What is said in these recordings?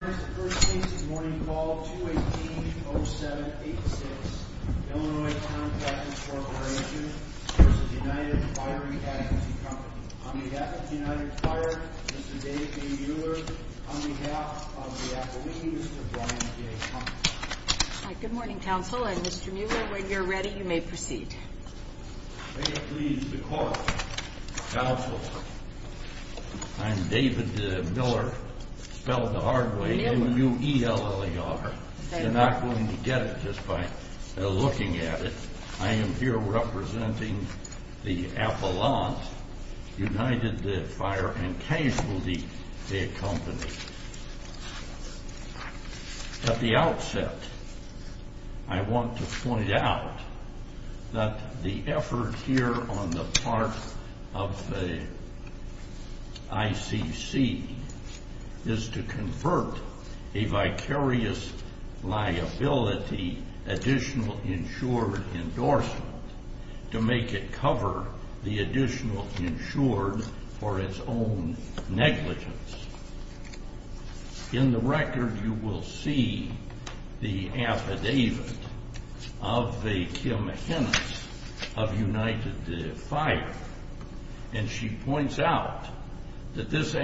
On behalf of the United Fire, Mr. David B. Mueller, on behalf of the Appalachian, Mr. Brian J. Conklin. Good morning, counsel, and Mr. Mueller, when you're ready, you may proceed. May it please the court, counsel, I'm David Miller, spelled the hard way, M-U-E-L-L-E-R. You're not going to get it just by looking at it. I am here representing the Appalachian, United Fire and Casualty Company. At the outset, I want to point out that the effort here on the part of the ICC is to convert a vicarious liability additional insured endorsement to make it cover the additional insured for its own negligence. In the record, you will see the affidavit of the Kim Henness of United Fire, and she points out that this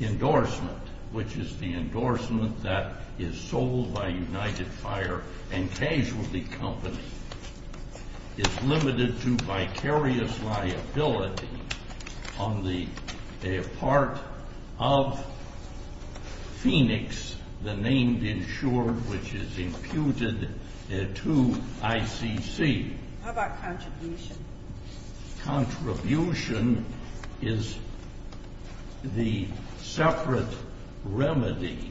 endorsement, which is the endorsement that is sold by United Fire and Casualty Company, is limited to vicarious liability on the part of Phoenix, the named insured which is imputed to ICC. How about contribution? Contribution is the separate remedy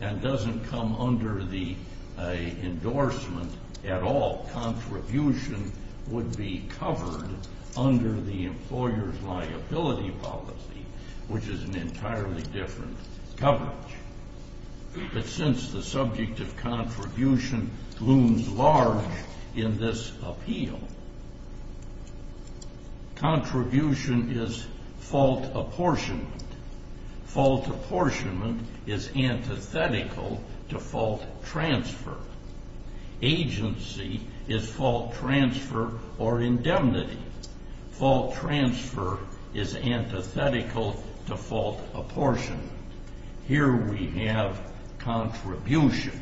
and doesn't come under the endorsement at all. Contribution would be covered under the employer's liability policy, which is an entirely different coverage. But since the subject of contribution looms large in this appeal, contribution is fault apportionment. Fault apportionment is antithetical to fault transfer. Agency is fault transfer or indemnity. Fault transfer is antithetical to fault apportionment. Here we have contribution.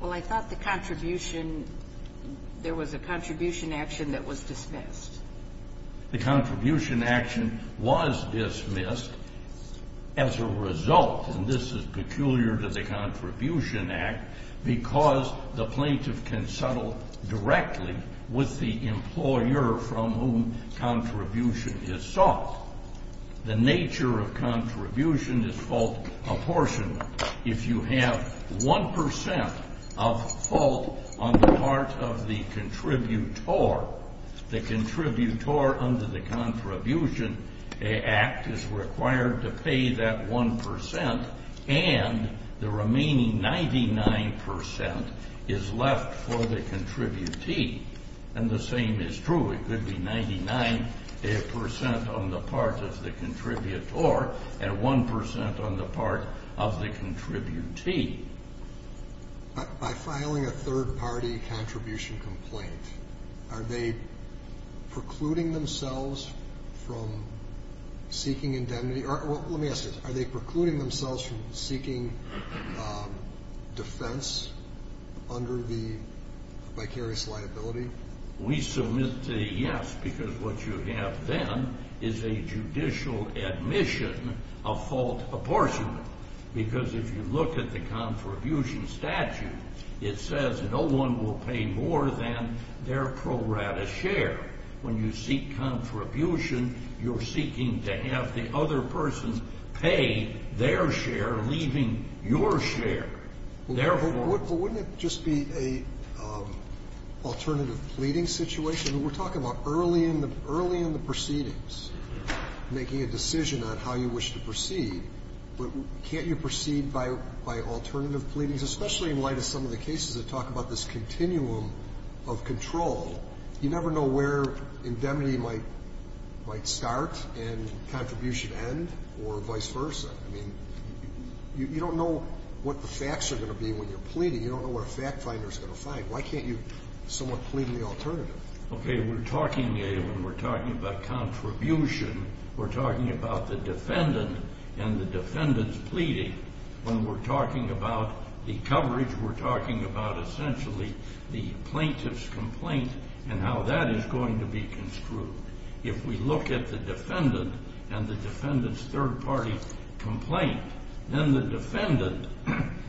Well, I thought the contribution, there was a contribution action that was dismissed. The contribution action was dismissed as a result, and this is peculiar to the Contribution Act, because the plaintiff can settle directly with the employer from whom contribution is sought. The nature of contribution is fault apportionment. If you have one percent of fault on the part of the contributor, the contributor under the Contribution Act is required to pay that one percent, and the remaining 99 percent is left for the contributee. And the same is true. It could be 99 percent on the part of the contributor and one percent on the part of the contributee. By filing a third-party contribution complaint, are they precluding themselves from seeking indemnity? Let me ask you this. Are they precluding themselves from seeking defense under the vicarious liability? We submit to the yes, because what you have then is a judicial admission of fault apportionment, because if you look at the contribution statute, it says no one will pay more than their pro rata share. When you seek contribution, you're seeking to have the other person pay their share, leaving your share. Therefore ---- But wouldn't it just be an alternative pleading situation? We're talking about early in the proceedings, making a decision on how you wish to proceed. But can't you proceed by alternative pleadings, especially in light of some of the cases that talk about this continuum of control? You never know where indemnity might start and contribution end or vice versa. I mean, you don't know what the facts are going to be when you're pleading. You don't know what a fact finder is going to find. Why can't you somewhat plead in the alternative? Okay, we're talking about contribution. We're talking about the defendant and the defendant's pleading. When we're talking about the coverage, we're talking about essentially the plaintiff's complaint and how that is going to be construed. If we look at the defendant and the defendant's third party complaint, then the defendant,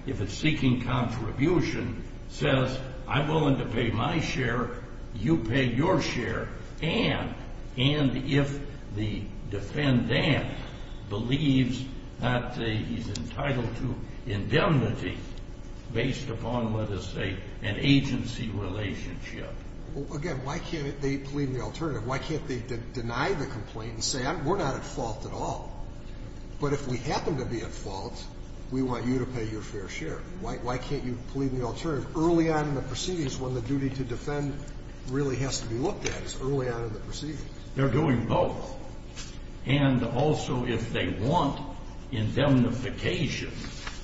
if it's seeking contribution, says I'm willing to pay my share, you pay your share. And if the defendant believes that he's entitled to indemnity based upon, let us say, an agency relationship. Again, why can't they plead in the alternative? Why can't they deny the complaint and say we're not at fault at all? But if we happen to be at fault, we want you to pay your fair share. Why can't you plead in the alternative? It's early on in the proceedings when the duty to defend really has to be looked at. It's early on in the proceedings. They're doing both. And also if they want indemnification,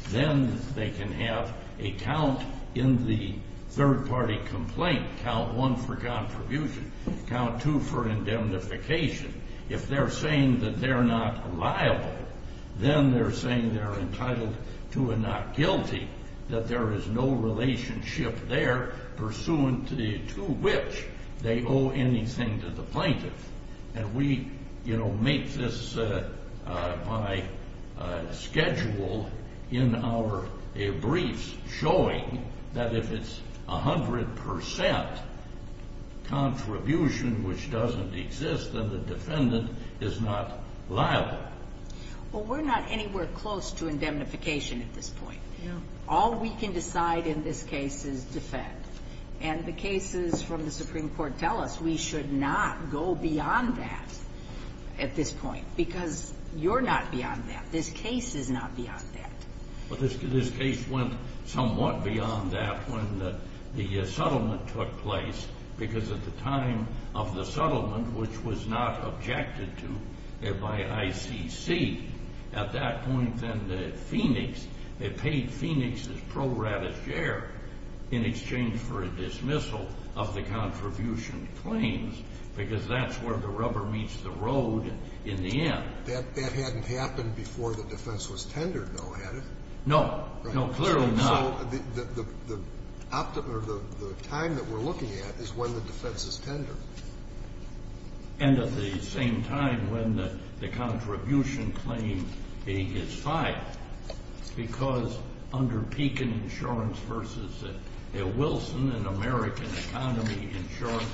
then they can have a count in the third party complaint, count one for contribution, count two for indemnification. If they're saying that they're not liable, then they're saying they're entitled to and not guilty, that there is no relationship there pursuant to which they owe anything to the plaintiff. And we, you know, make this my schedule in our briefs showing that if it's 100 percent contribution which doesn't exist, then the defendant is not liable. Well, we're not anywhere close to indemnification at this point. All we can decide in this case is defend. And the cases from the Supreme Court tell us we should not go beyond that at this point because you're not beyond that. This case is not beyond that. But this case went somewhat beyond that when the settlement took place because at the time of the settlement, which was not objected to by ICC, at that point then the Phoenix, they paid Phoenix's pro ratus share in exchange for a dismissal of the contribution claims because that's where the rubber meets the road in the end. That hadn't happened before the defense was tendered, though, had it? No. No, clearly not. So the time that we're looking at is when the defense is tendered. And at the same time when the contribution claim is filed because under Pekin Insurance versus Wilson and American Economy Insurance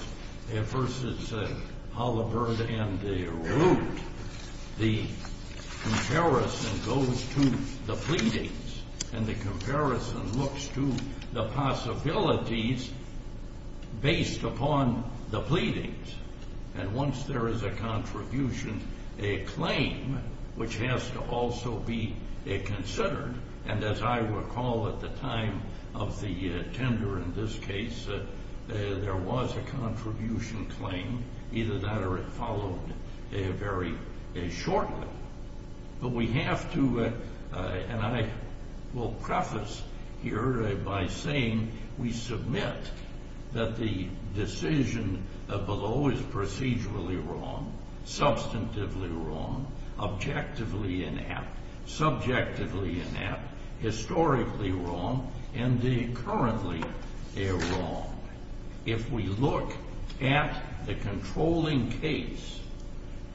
versus Holabird and Root, the comparison goes to the pleadings and the comparison looks to the possibilities based upon the pleadings. And once there is a contribution, a claim which has to also be considered, and as I recall at the time of the tender in this case, there was a contribution claim, either that or it followed very shortly. But we have to, and I will preface here by saying we submit that the decision below is procedurally wrong, substantively wrong, objectively inept, subjectively inept, historically wrong, and currently wrong. If we look at the controlling case,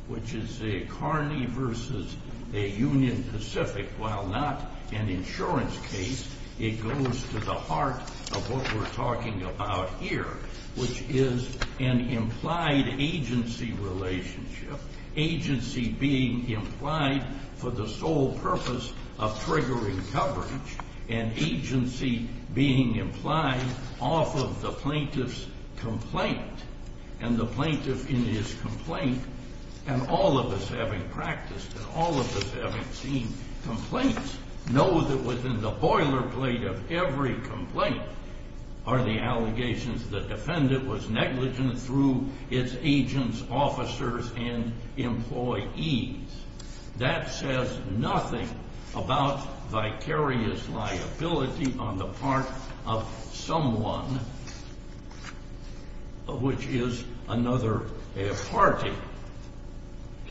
which is a Carney versus a Union Pacific, while not an insurance case, it goes to the heart of what we're talking about here, which is an implied agency relationship, agency being implied for the sole purpose of triggering coverage, and agency being implied off of the plaintiff's complaint. And the plaintiff in his complaint, and all of us having practiced, and all of us having seen complaints, know that within the boilerplate of every complaint are the allegations that the defendant was negligent through its agents, officers, and employees. That says nothing about vicarious liability on the part of someone which is another party.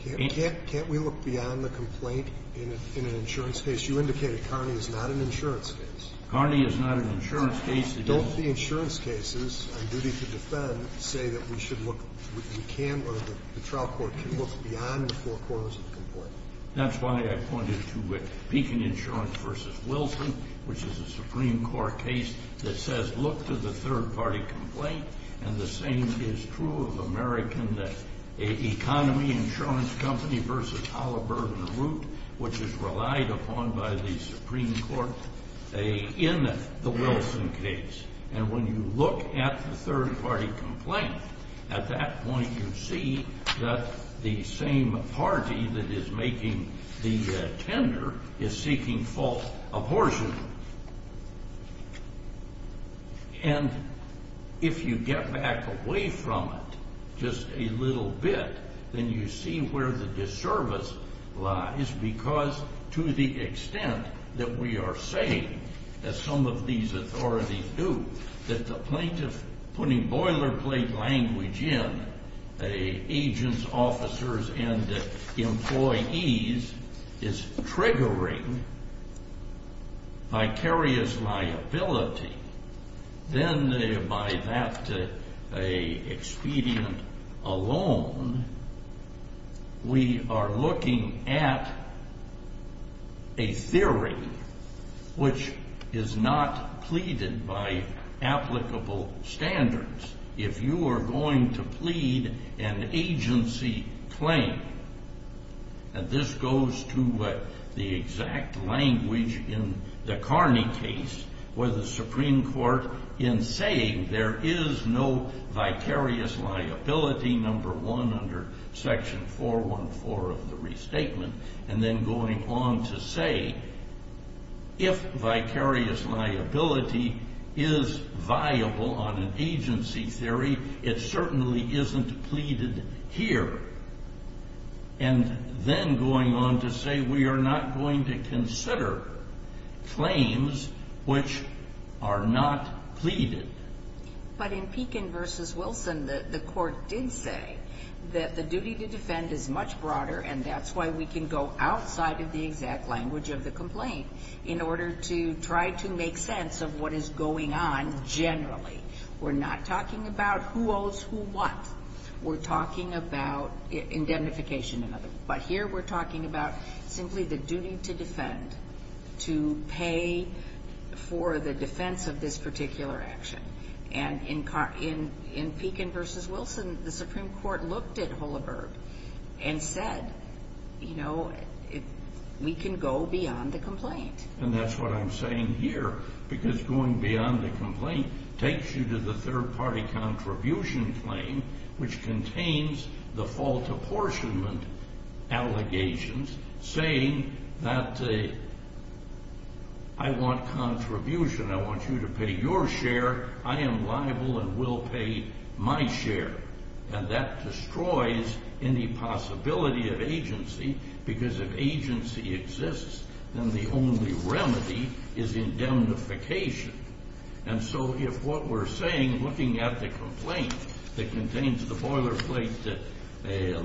Can't we look beyond the complaint in an insurance case? You indicated Carney is not an insurance case. Carney is not an insurance case. Don't the insurance cases on duty to defend say that we should look, we can, or the trial court can look beyond the four corners of the complaint? That's why I pointed to Beacon Insurance versus Wilson, which is a Supreme Court case that says look to the third party complaint. And the same is true of American Economy Insurance Company versus Halliburton Root, which is relied upon by the Supreme Court in the Wilson case. And when you look at the third party complaint, at that point you see that the same party that is making the tender is seeking full abortion. And if you get back away from it just a little bit, then you see where the disservice lies because to the extent that we are saying, as some of these authorities do, that the plaintiff putting boilerplate language in agents, officers, and employees is triggering vicarious liability, then by that expedient alone, we are looking at a theory which is not pleaded by applicable standards. If you are going to plead an agency claim, and this goes to the exact language in the Carney case where the Supreme Court in saying there is no vicarious liability, number one under section 414 of the restatement, and then going on to say if vicarious liability is viable on an agency theory, it certainly isn't pleaded here. And then going on to say we are not going to consider claims which are not pleaded. But in Pekin v. Wilson, the court did say that the duty to defend is much broader, and that's why we can go outside of the exact language of the complaint in order to try to make sense of what is going on generally. We're not talking about who owes who what. We're talking about indemnification. But here we're talking about simply the duty to defend, to pay for the defense of this particular action. And in Pekin v. Wilson, the Supreme Court looked at Hullaberg and said, you know, we can go beyond the complaint. And that's what I'm saying here, because going beyond the complaint takes you to the third-party contribution claim, which contains the fault apportionment allegations saying that I want contribution, I want you to pay your share, I am liable and will pay my share. And that destroys any possibility of agency, because if agency exists, then the only remedy is indemnification. And so if what we're saying, looking at the complaint that contains the boilerplate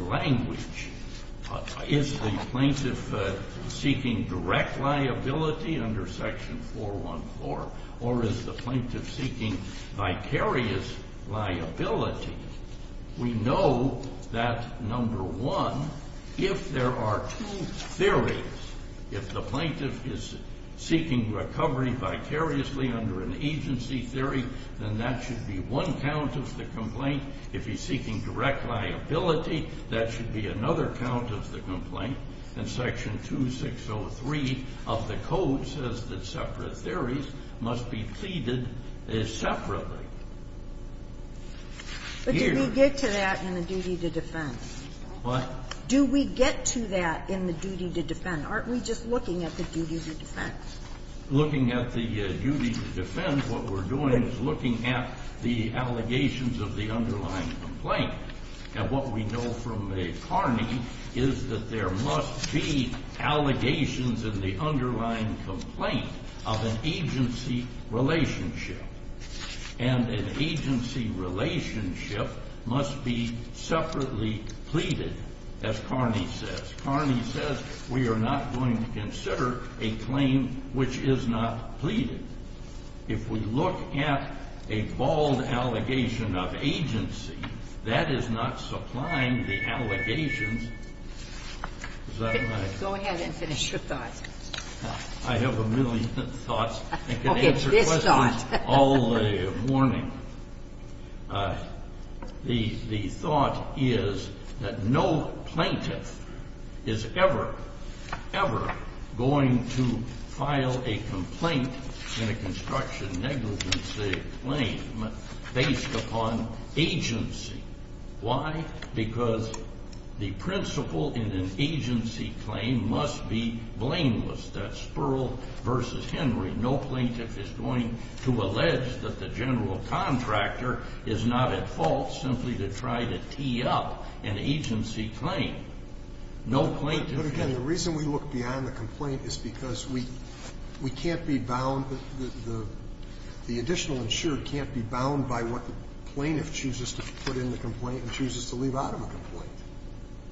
language, is the plaintiff seeking direct liability under Section 414, or is the plaintiff seeking vicarious liability, we know that, number one, if there are two theories, if the plaintiff is seeking recovery vicariously under an agency theory, then that should be one count of the complaint. If he's seeking direct liability, that should be another count of the complaint. And Section 2603 of the Code says that separate theories must be pleaded separately. Here we get to that in the duty to defend. What? Do we get to that in the duty to defend? Aren't we just looking at the duty to defend? Looking at the duty to defend, what we're doing is looking at the allegations of the underlying complaint. And what we know from Carney is that there must be allegations in the underlying complaint of an agency relationship. And an agency relationship must be separately pleaded, as Carney says. We are not going to consider a claim which is not pleaded. If we look at a bald allegation of agency, that is not supplying the allegations. Is that my question? Go ahead and finish your thought. I have a million thoughts. Okay. This thought. I can answer questions all day morning. The thought is that no plaintiff is ever, ever going to file a complaint in a construction negligency claim based upon agency. Why? Because the principle in an agency claim must be blameless. That's Spurl versus Henry. No plaintiff is going to allege that the general contractor is not at fault simply to try to tee up an agency claim. No plaintiff is going to. But, again, the reason we look beyond the complaint is because we can't be bound. The additional insured can't be bound by what the plaintiff chooses to put in the complaint and chooses to leave out of a complaint.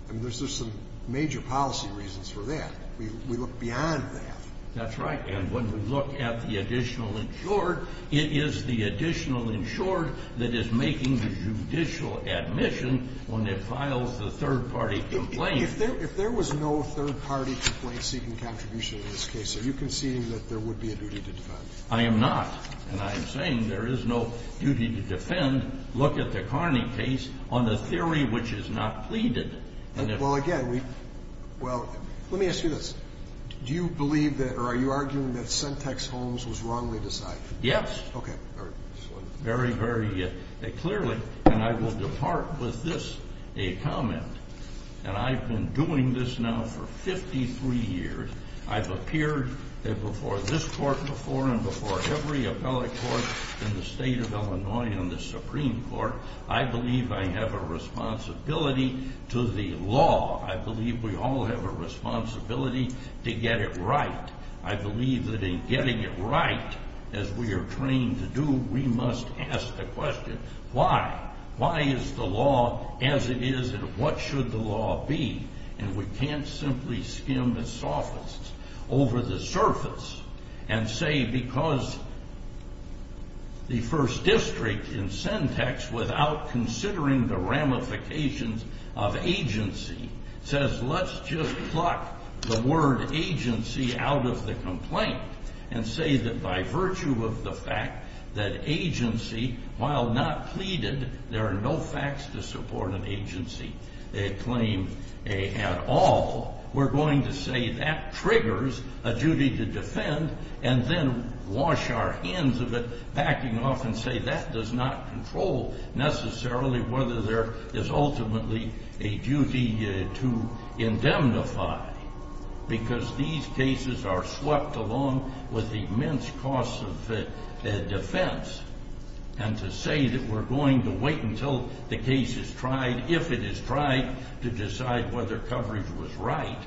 And there's just some major policy reasons for that. We look beyond that. That's right. And when we look at the additional insured, it is the additional insured that is making the judicial admission when it files the third-party complaint. If there was no third-party complaint seeking contribution in this case, are you conceding that there would be a duty to defend? I am not. And I am saying there is no duty to defend. Look at the Carney case on the theory which is not pleaded. Well, again, let me ask you this. Do you believe that or are you arguing that Sentex Holmes was wrongly decided? Yes. Okay. Very, very clearly, and I will depart with this, a comment. And I've been doing this now for 53 years. I've appeared before this court before and before every appellate court in the state of Illinois and the Supreme Court. I believe I have a responsibility to the law. I believe we all have a responsibility to get it right. I believe that in getting it right, as we are trained to do, we must ask the question, why? Why is the law as it is and what should the law be? And we can't simply skim the soffits over the surface and say because the first district in Sentex, without considering the ramifications of agency, says let's just pluck the word agency out of the complaint and say that by virtue of the fact that agency, while not pleaded, there are no facts to support an agency. A claim at all, we're going to say that triggers a duty to defend and then wash our hands of it, backing off and say that does not control necessarily whether there is ultimately a duty to indemnify. Because these cases are swept along with immense costs of defense. And to say that we're going to wait until the case is tried, if it is tried, to decide whether coverage was right,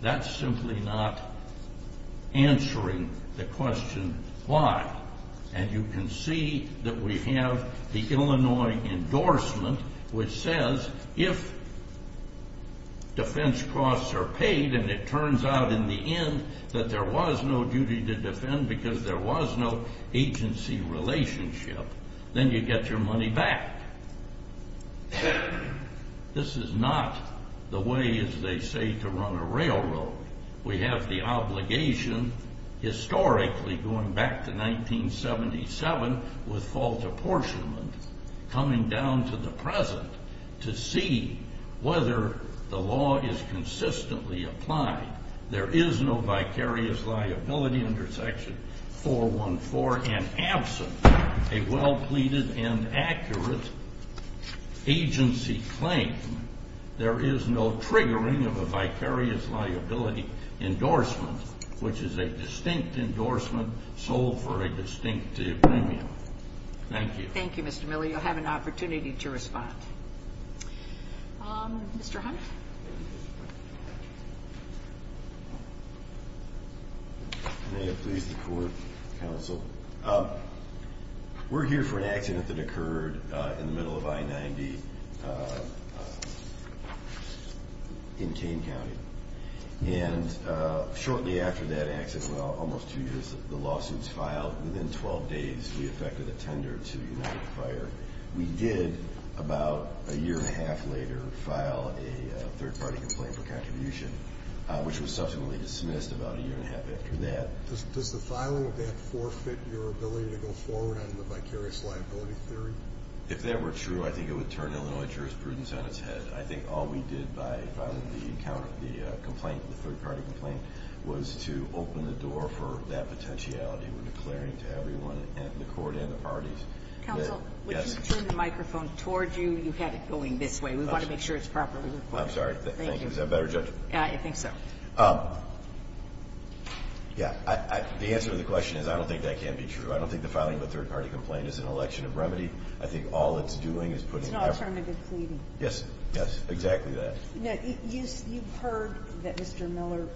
that's simply not answering the question, why? And you can see that we have the Illinois endorsement which says if defense costs are paid and it turns out in the end that there was no duty to defend because there was no agency relationship, then you get your money back. This is not the way, as they say, to run a railroad. We have the obligation, historically going back to 1977 with false apportionment, coming down to the present to see whether the law is consistently applied. There is no vicarious liability under section 414 and absent a well pleaded and accurate agency claim, there is no triggering of a vicarious liability endorsement, which is a distinct endorsement sold for a distinct premium. Thank you. Thank you, Mr. Miller. You'll have an opportunity to respond. Mr. Hunt. May it please the court, counsel. We're here for an accident that occurred in the middle of I-90 in Kane County. And shortly after that accident, well, almost two years, the lawsuits filed. Within 12 days, we effected a tender to the United Fire. We did, about a year and a half later, file a third-party complaint for contribution, which was subsequently dismissed about a year and a half after that. Does the filing of that forfeit your ability to go forward on the vicarious liability theory? If that were true, I think it would turn Illinois jurisprudence on its head. I think all we did by filing the complaint, the third-party complaint, was to open the door for that potentiality. We're declaring to everyone in the court and the parties. Counsel, would you turn the microphone toward you? You had it going this way. We want to make sure it's properly recorded. I'm sorry. Thank you. Is that better, Judge? I think so. Yeah. The answer to the question is I don't think that can be true. I don't think the filing of a third-party complaint is an election of remedy. I think all it's doing is putting effort. It's an alternative pleading. Yes. Yes, exactly that. Now, you've heard that Mr. Miller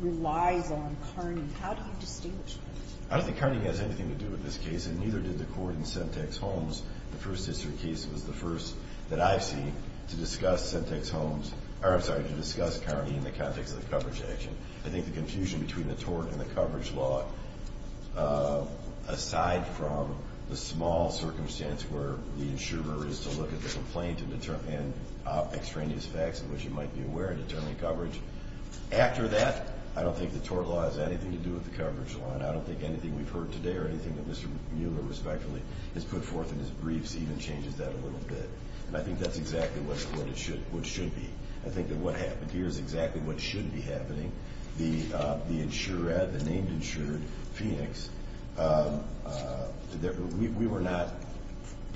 relies on Kearney. How do you distinguish that? I don't think Kearney has anything to do with this case, and neither did the court in Semtex-Holmes. The first history case was the first that I've seen to discuss Semtex-Holmes or, I'm sorry, to discuss Kearney in the context of the coverage action. I think the confusion between the tort and the coverage law, aside from the small circumstance where the insurer is to look at the complaint and extraneous facts in which you might be aware and determine coverage. After that, I don't think the tort law has anything to do with the coverage law, and I don't think anything we've heard today or anything that Mr. Miller, respectfully, has put forth in his briefs even changes that a little bit. And I think that's exactly what it should be. I think that what happened here is exactly what should be happening. The insured, the named insured Phoenix, we were not,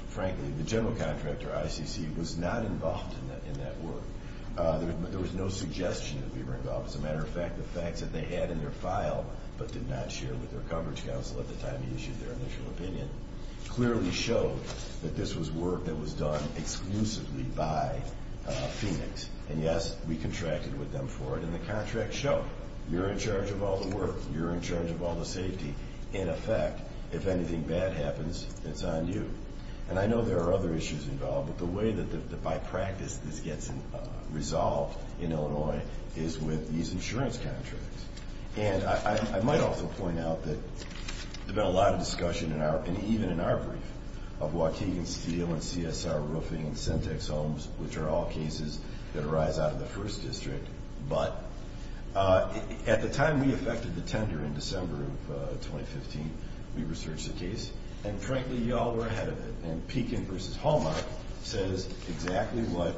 frankly, the general contractor, ICC, was not involved in that work. There was no suggestion that we were involved. As a matter of fact, the facts that they had in their file but did not share with their coverage counsel at the time he issued their initial opinion clearly showed that this was work that was done exclusively by Phoenix. And, yes, we contracted with them for it. And the contracts show you're in charge of all the work. You're in charge of all the safety. In effect, if anything bad happens, it's on you. And I know there are other issues involved, but the way that by practice this gets resolved in Illinois is with these insurance contracts. And I might also point out that there's been a lot of discussion, and even in our brief, of Waukegan Steel and CSR roofing and Syntex homes, which are all cases that arise out of the first district, but at the time we effected the tender in December of 2015, we researched the case. And, frankly, you all were ahead of it. And Pekin v. Hallmark says exactly what,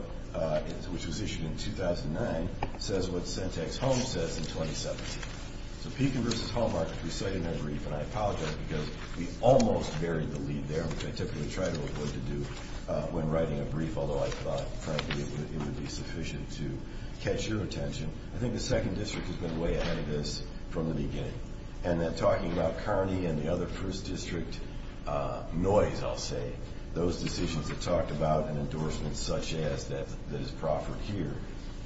which was issued in 2009, says what Syntex homes says in 2017. So Pekin v. Hallmark recited their brief, and I apologize because we almost buried the lead there, which I typically try to avoid to do when writing a brief, although I thought, frankly, it would be sufficient to catch your attention. I think the second district has been way ahead of us from the beginning. And then talking about Kearney and the other first district noise, I'll say, those decisions have talked about an endorsement such as that is proffered here.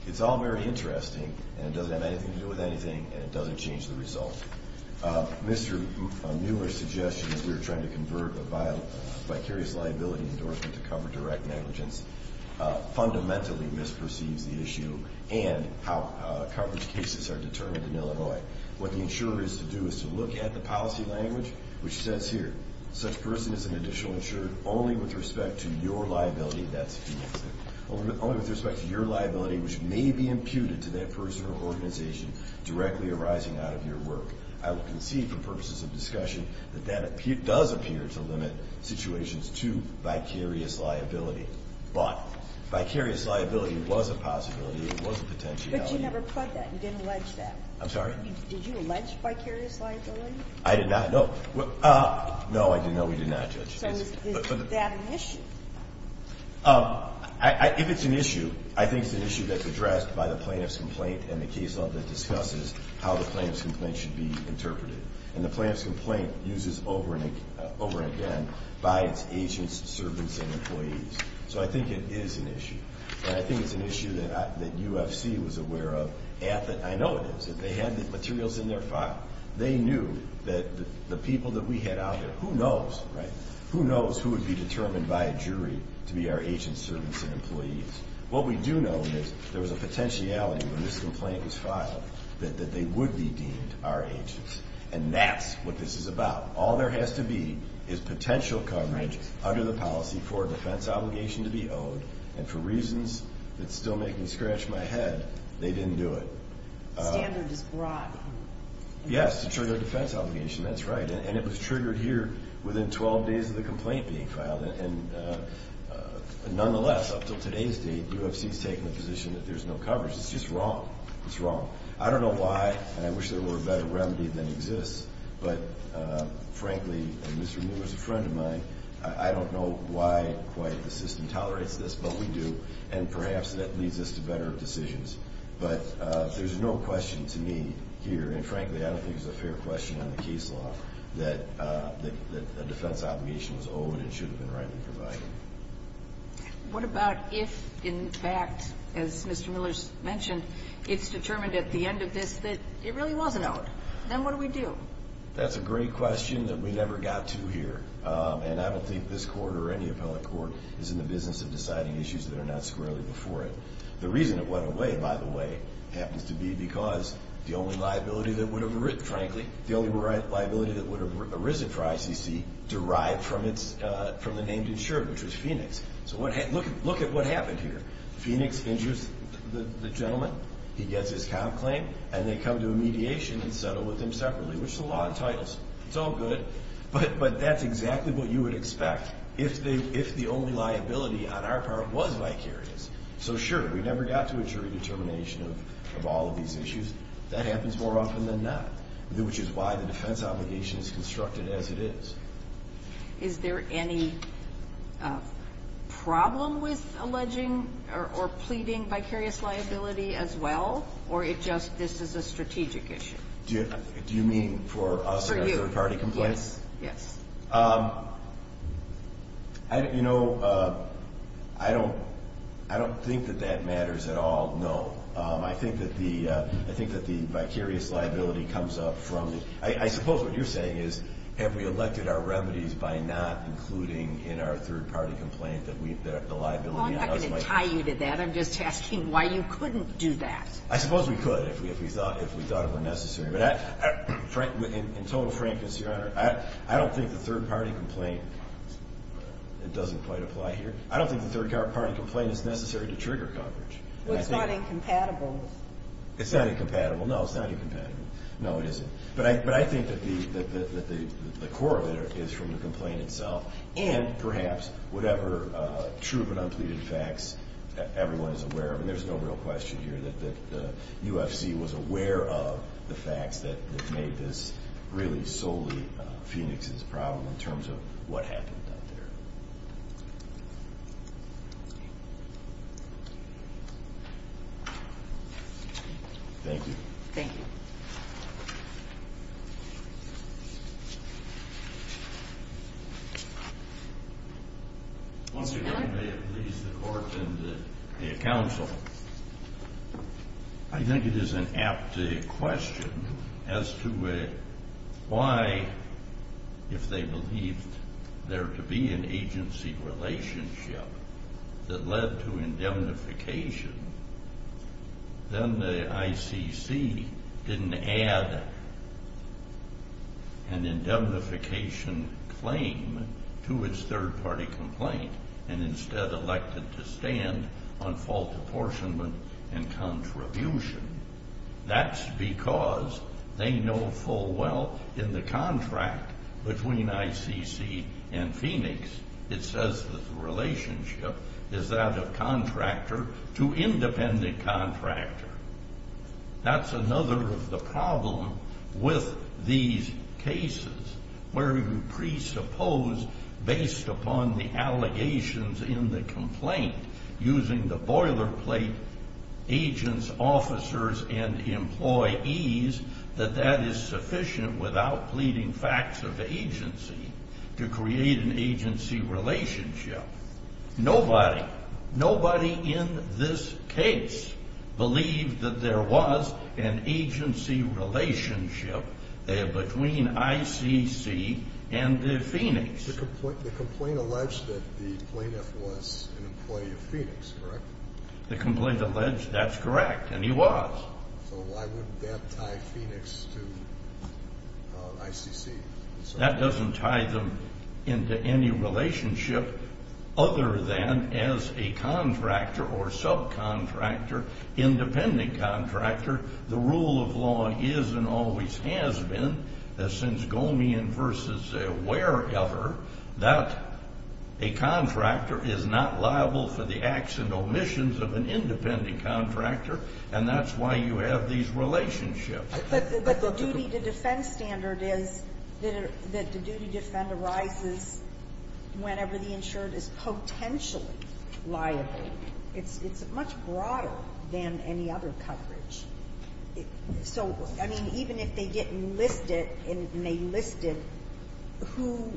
It's all very interesting, and it doesn't have anything to do with anything, and it doesn't change the result. Mr. Muir's suggestion is we're trying to convert a vicarious liability endorsement to cover direct negligence fundamentally misperceives the issue and how coverage cases are determined in Illinois. What the insurer is to do is to look at the policy language, which says here, such person is an additional insurer only with respect to your liability, that's if he makes it, only with respect to your liability, which may be imputed to that person or organization directly arising out of your work. I will concede, for purposes of discussion, that that does appear to limit situations to vicarious liability. But vicarious liability was a possibility. It was a potentiality. But you never pled that. You didn't allege that. I'm sorry? Did you allege vicarious liability? I did not. No. No, I did not. We did not, Judge. So is that an issue? If it's an issue, I think it's an issue that's addressed by the plaintiff's complaint and the case law that discusses how the plaintiff's complaint should be interpreted. And the plaintiff's complaint uses over and again by its agents, servants, and employees. So I think it is an issue. And I think it's an issue that UFC was aware of. I know it is. They had the materials in their file. They knew that the people that we had out there, who knows, right? Who knows who would be determined by a jury to be our agents, servants, and employees. What we do know is there was a potentiality when this complaint was filed that they would be deemed our agents. And that's what this is about. All there has to be is potential coverage under the policy for a defense obligation to be owed. And for reasons that still make me scratch my head, they didn't do it. The standard is broad. Yes, to trigger a defense obligation. That's right. And it was triggered here within 12 days of the complaint being filed. And nonetheless, up until today's date, UFC has taken the position that there's no coverage. It's just wrong. It's wrong. I don't know why, and I wish there were a better remedy than exists, but frankly, and Mr. Miller's a friend of mine, I don't know why quite the system tolerates this, but we do. And perhaps that leads us to better decisions. But there's no question to me here, and frankly, I don't think it's a fair question on the case law, that a defense obligation was owed and should have been rightly provided. What about if, in fact, as Mr. Miller's mentioned, it's determined at the end of this that it really was an ode? Then what do we do? That's a great question that we never got to here. And I don't think this court or any appellate court is in the business of deciding issues that are not squarely before it. The reason it went away, by the way, happens to be because the only liability that would have arisen for ICC, derived from the name insured, which was Phoenix. So look at what happened here. Phoenix injures the gentleman, he gets his comp claim, and they come to a mediation and settle with him separately, which the law entitles. It's all good, but that's exactly what you would expect if the only liability on our part was vicarious. So sure, we never got to a jury determination of all of these issues. That happens more often than not, which is why the defense obligation is constructed as it is. Is there any problem with alleging or pleading vicarious liability as well, or is this just a strategic issue? Do you mean for us or third-party complaints? Yes. You know, I don't think that that matters at all, no. I think that the vicarious liability comes up from the – I suppose what you're saying is have we elected our remedies by not including in our third-party complaint the liability? Well, I'm not going to tie you to that. I'm just asking why you couldn't do that. I suppose we could if we thought it were necessary. But in total frankness, Your Honor, I don't think the third-party complaint – it doesn't quite apply here. I don't think the third-party complaint is necessary to trigger coverage. Well, it's not incompatible. It's not incompatible, no. It's not incompatible. No, it isn't. But I think that the core of it is from the complaint itself and perhaps whatever true but unpleaded facts everyone is aware of. And there's no real question here that the UFC was aware of the facts that made this really solely Phoenix's problem in terms of what happened up there. Thank you. Thank you. Once again, may it please the Court and the counsel, I think it is an apt question as to why, if they believed there to be an agency relationship that led to indemnification, then the ICC didn't add an indemnification claim to its third-party complaint and instead elected to stand on fault apportionment and contribution. That's because they know full well in the contract between ICC and Phoenix, it says that the relationship is that of contractor to independent contractor. That's another of the problems with these cases where you presuppose based upon the allegations in the complaint using the boilerplate agents, officers, and employees that that is sufficient without pleading facts of agency to create an agency relationship. Nobody in this case believed that there was an agency relationship between ICC and Phoenix. The complaint alleged that the plaintiff was an employee of Phoenix, correct? The complaint alleged that's correct, and he was. So why wouldn't that tie Phoenix to ICC? That doesn't tie them into any relationship other than as a contractor or subcontractor, independent contractor, the rule of law is and always has been, since Gomeon versus wherever, that a contractor is not liable for the acts and omissions of an independent contractor, and that's why you have these relationships. But the duty to defend standard is that the duty to defend arises whenever the insured is potentially liable. It's much broader than any other coverage. So, I mean, even if they didn't list it and they listed who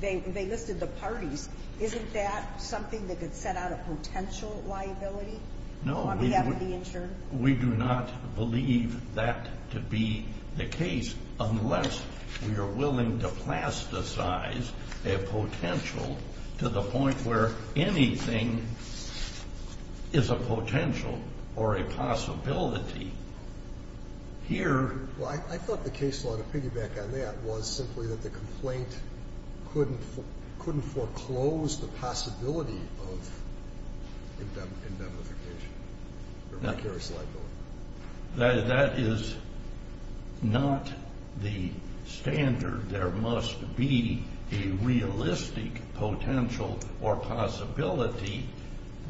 they listed the parties, isn't that something that could set out a potential liability on behalf of the insured? We do not believe that to be the case unless we are willing to plasticize a potential to the point where anything is a potential or a possibility. Here... Well, I thought the case law, to piggyback on that, was simply that the complaint couldn't foreclose the possibility of indemnification. That is not the standard. There must be a realistic potential or possibility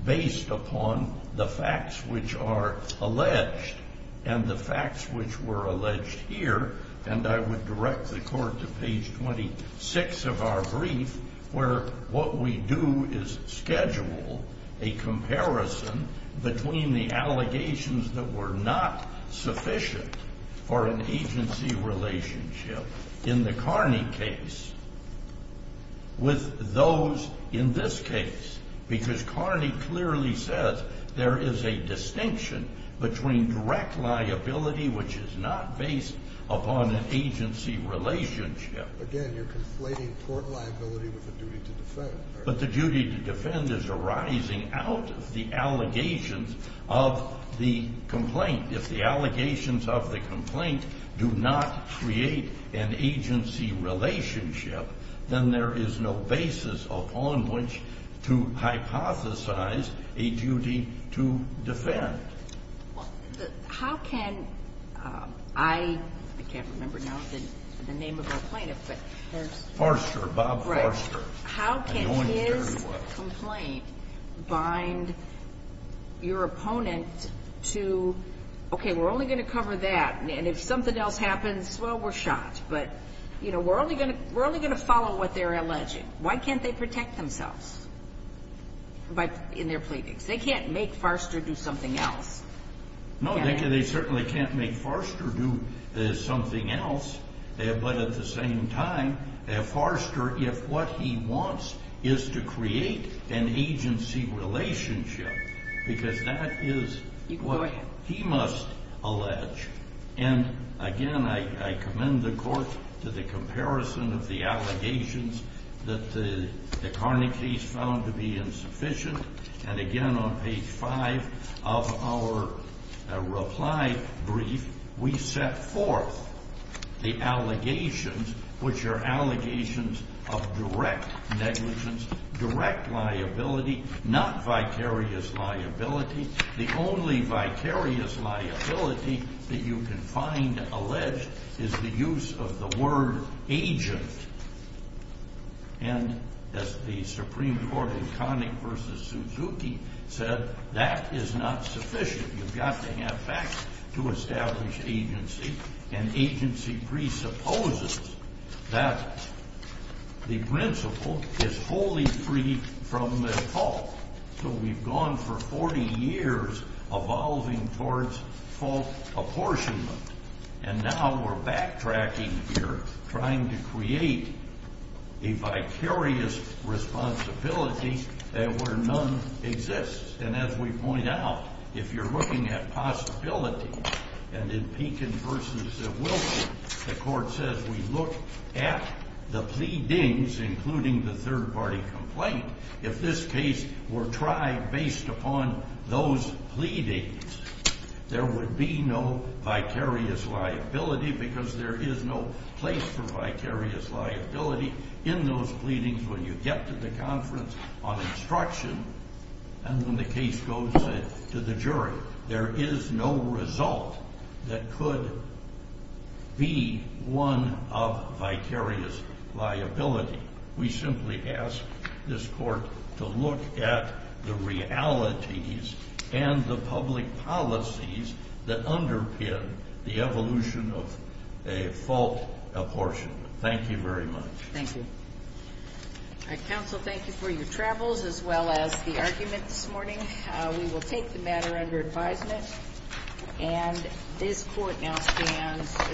based upon the facts which are alleged and the facts which were alleged here, and I would direct the court to page 26 of our brief, where what we do is schedule a comparison between the allegations that were not sufficient for an agency relationship in the Carney case with those in this case, because Carney clearly says there is a distinction between direct liability, which is not based upon an agency relationship... Again, you're conflating court liability with the duty to defend. out of the allegations of the complaint. If the allegations of the complaint do not create an agency relationship, then there is no basis upon which to hypothesize a duty to defend. Well, how can I... I can't remember now the name of our plaintiff, but there's... Forster, Bob Forster. How can his complaint bind your opponent to, okay, we're only going to cover that, and if something else happens, well, we're shot, but we're only going to follow what they're alleging. Why can't they protect themselves in their pleadings? They can't make Forster do something else. No, they certainly can't make Forster do something else, but at the same time, Forster, if what he wants is to create an agency relationship, because that is what he must allege. And again, I commend the court to the comparison of the allegations that the Carney case found to be insufficient, and again on page 5 of our reply brief, we set forth the allegations, which are allegations of direct negligence, direct liability, not vicarious liability. The only vicarious liability that you can find alleged is the use of the word agent. And as the Supreme Court in Connick v. Suzuki said, that is not sufficient. You've got to have facts to establish agency, and agency presupposes that the principle is fully free from the fault. So we've gone for 40 years evolving towards fault apportionment, and now we're backtracking here, trying to create a vicarious responsibility where none exists. And as we point out, if you're looking at possibilities, and in Pekin v. Wilkerson, the court says we look at the pleadings, including the third-party complaint, if this case were tried based upon those pleadings, there would be no vicarious liability, because there is no place for vicarious liability in those pleadings when you get to the conference on instruction, and when the case goes to the jury. There is no result that could be one of vicarious liability. We simply ask this court to look at the realities and the public policies that underpin the evolution of a fault apportionment. Thank you very much. Thank you. All right, counsel, thank you for your travels, as well as the argument this morning. We will take the matter under advisement, and this court now stands adjourned.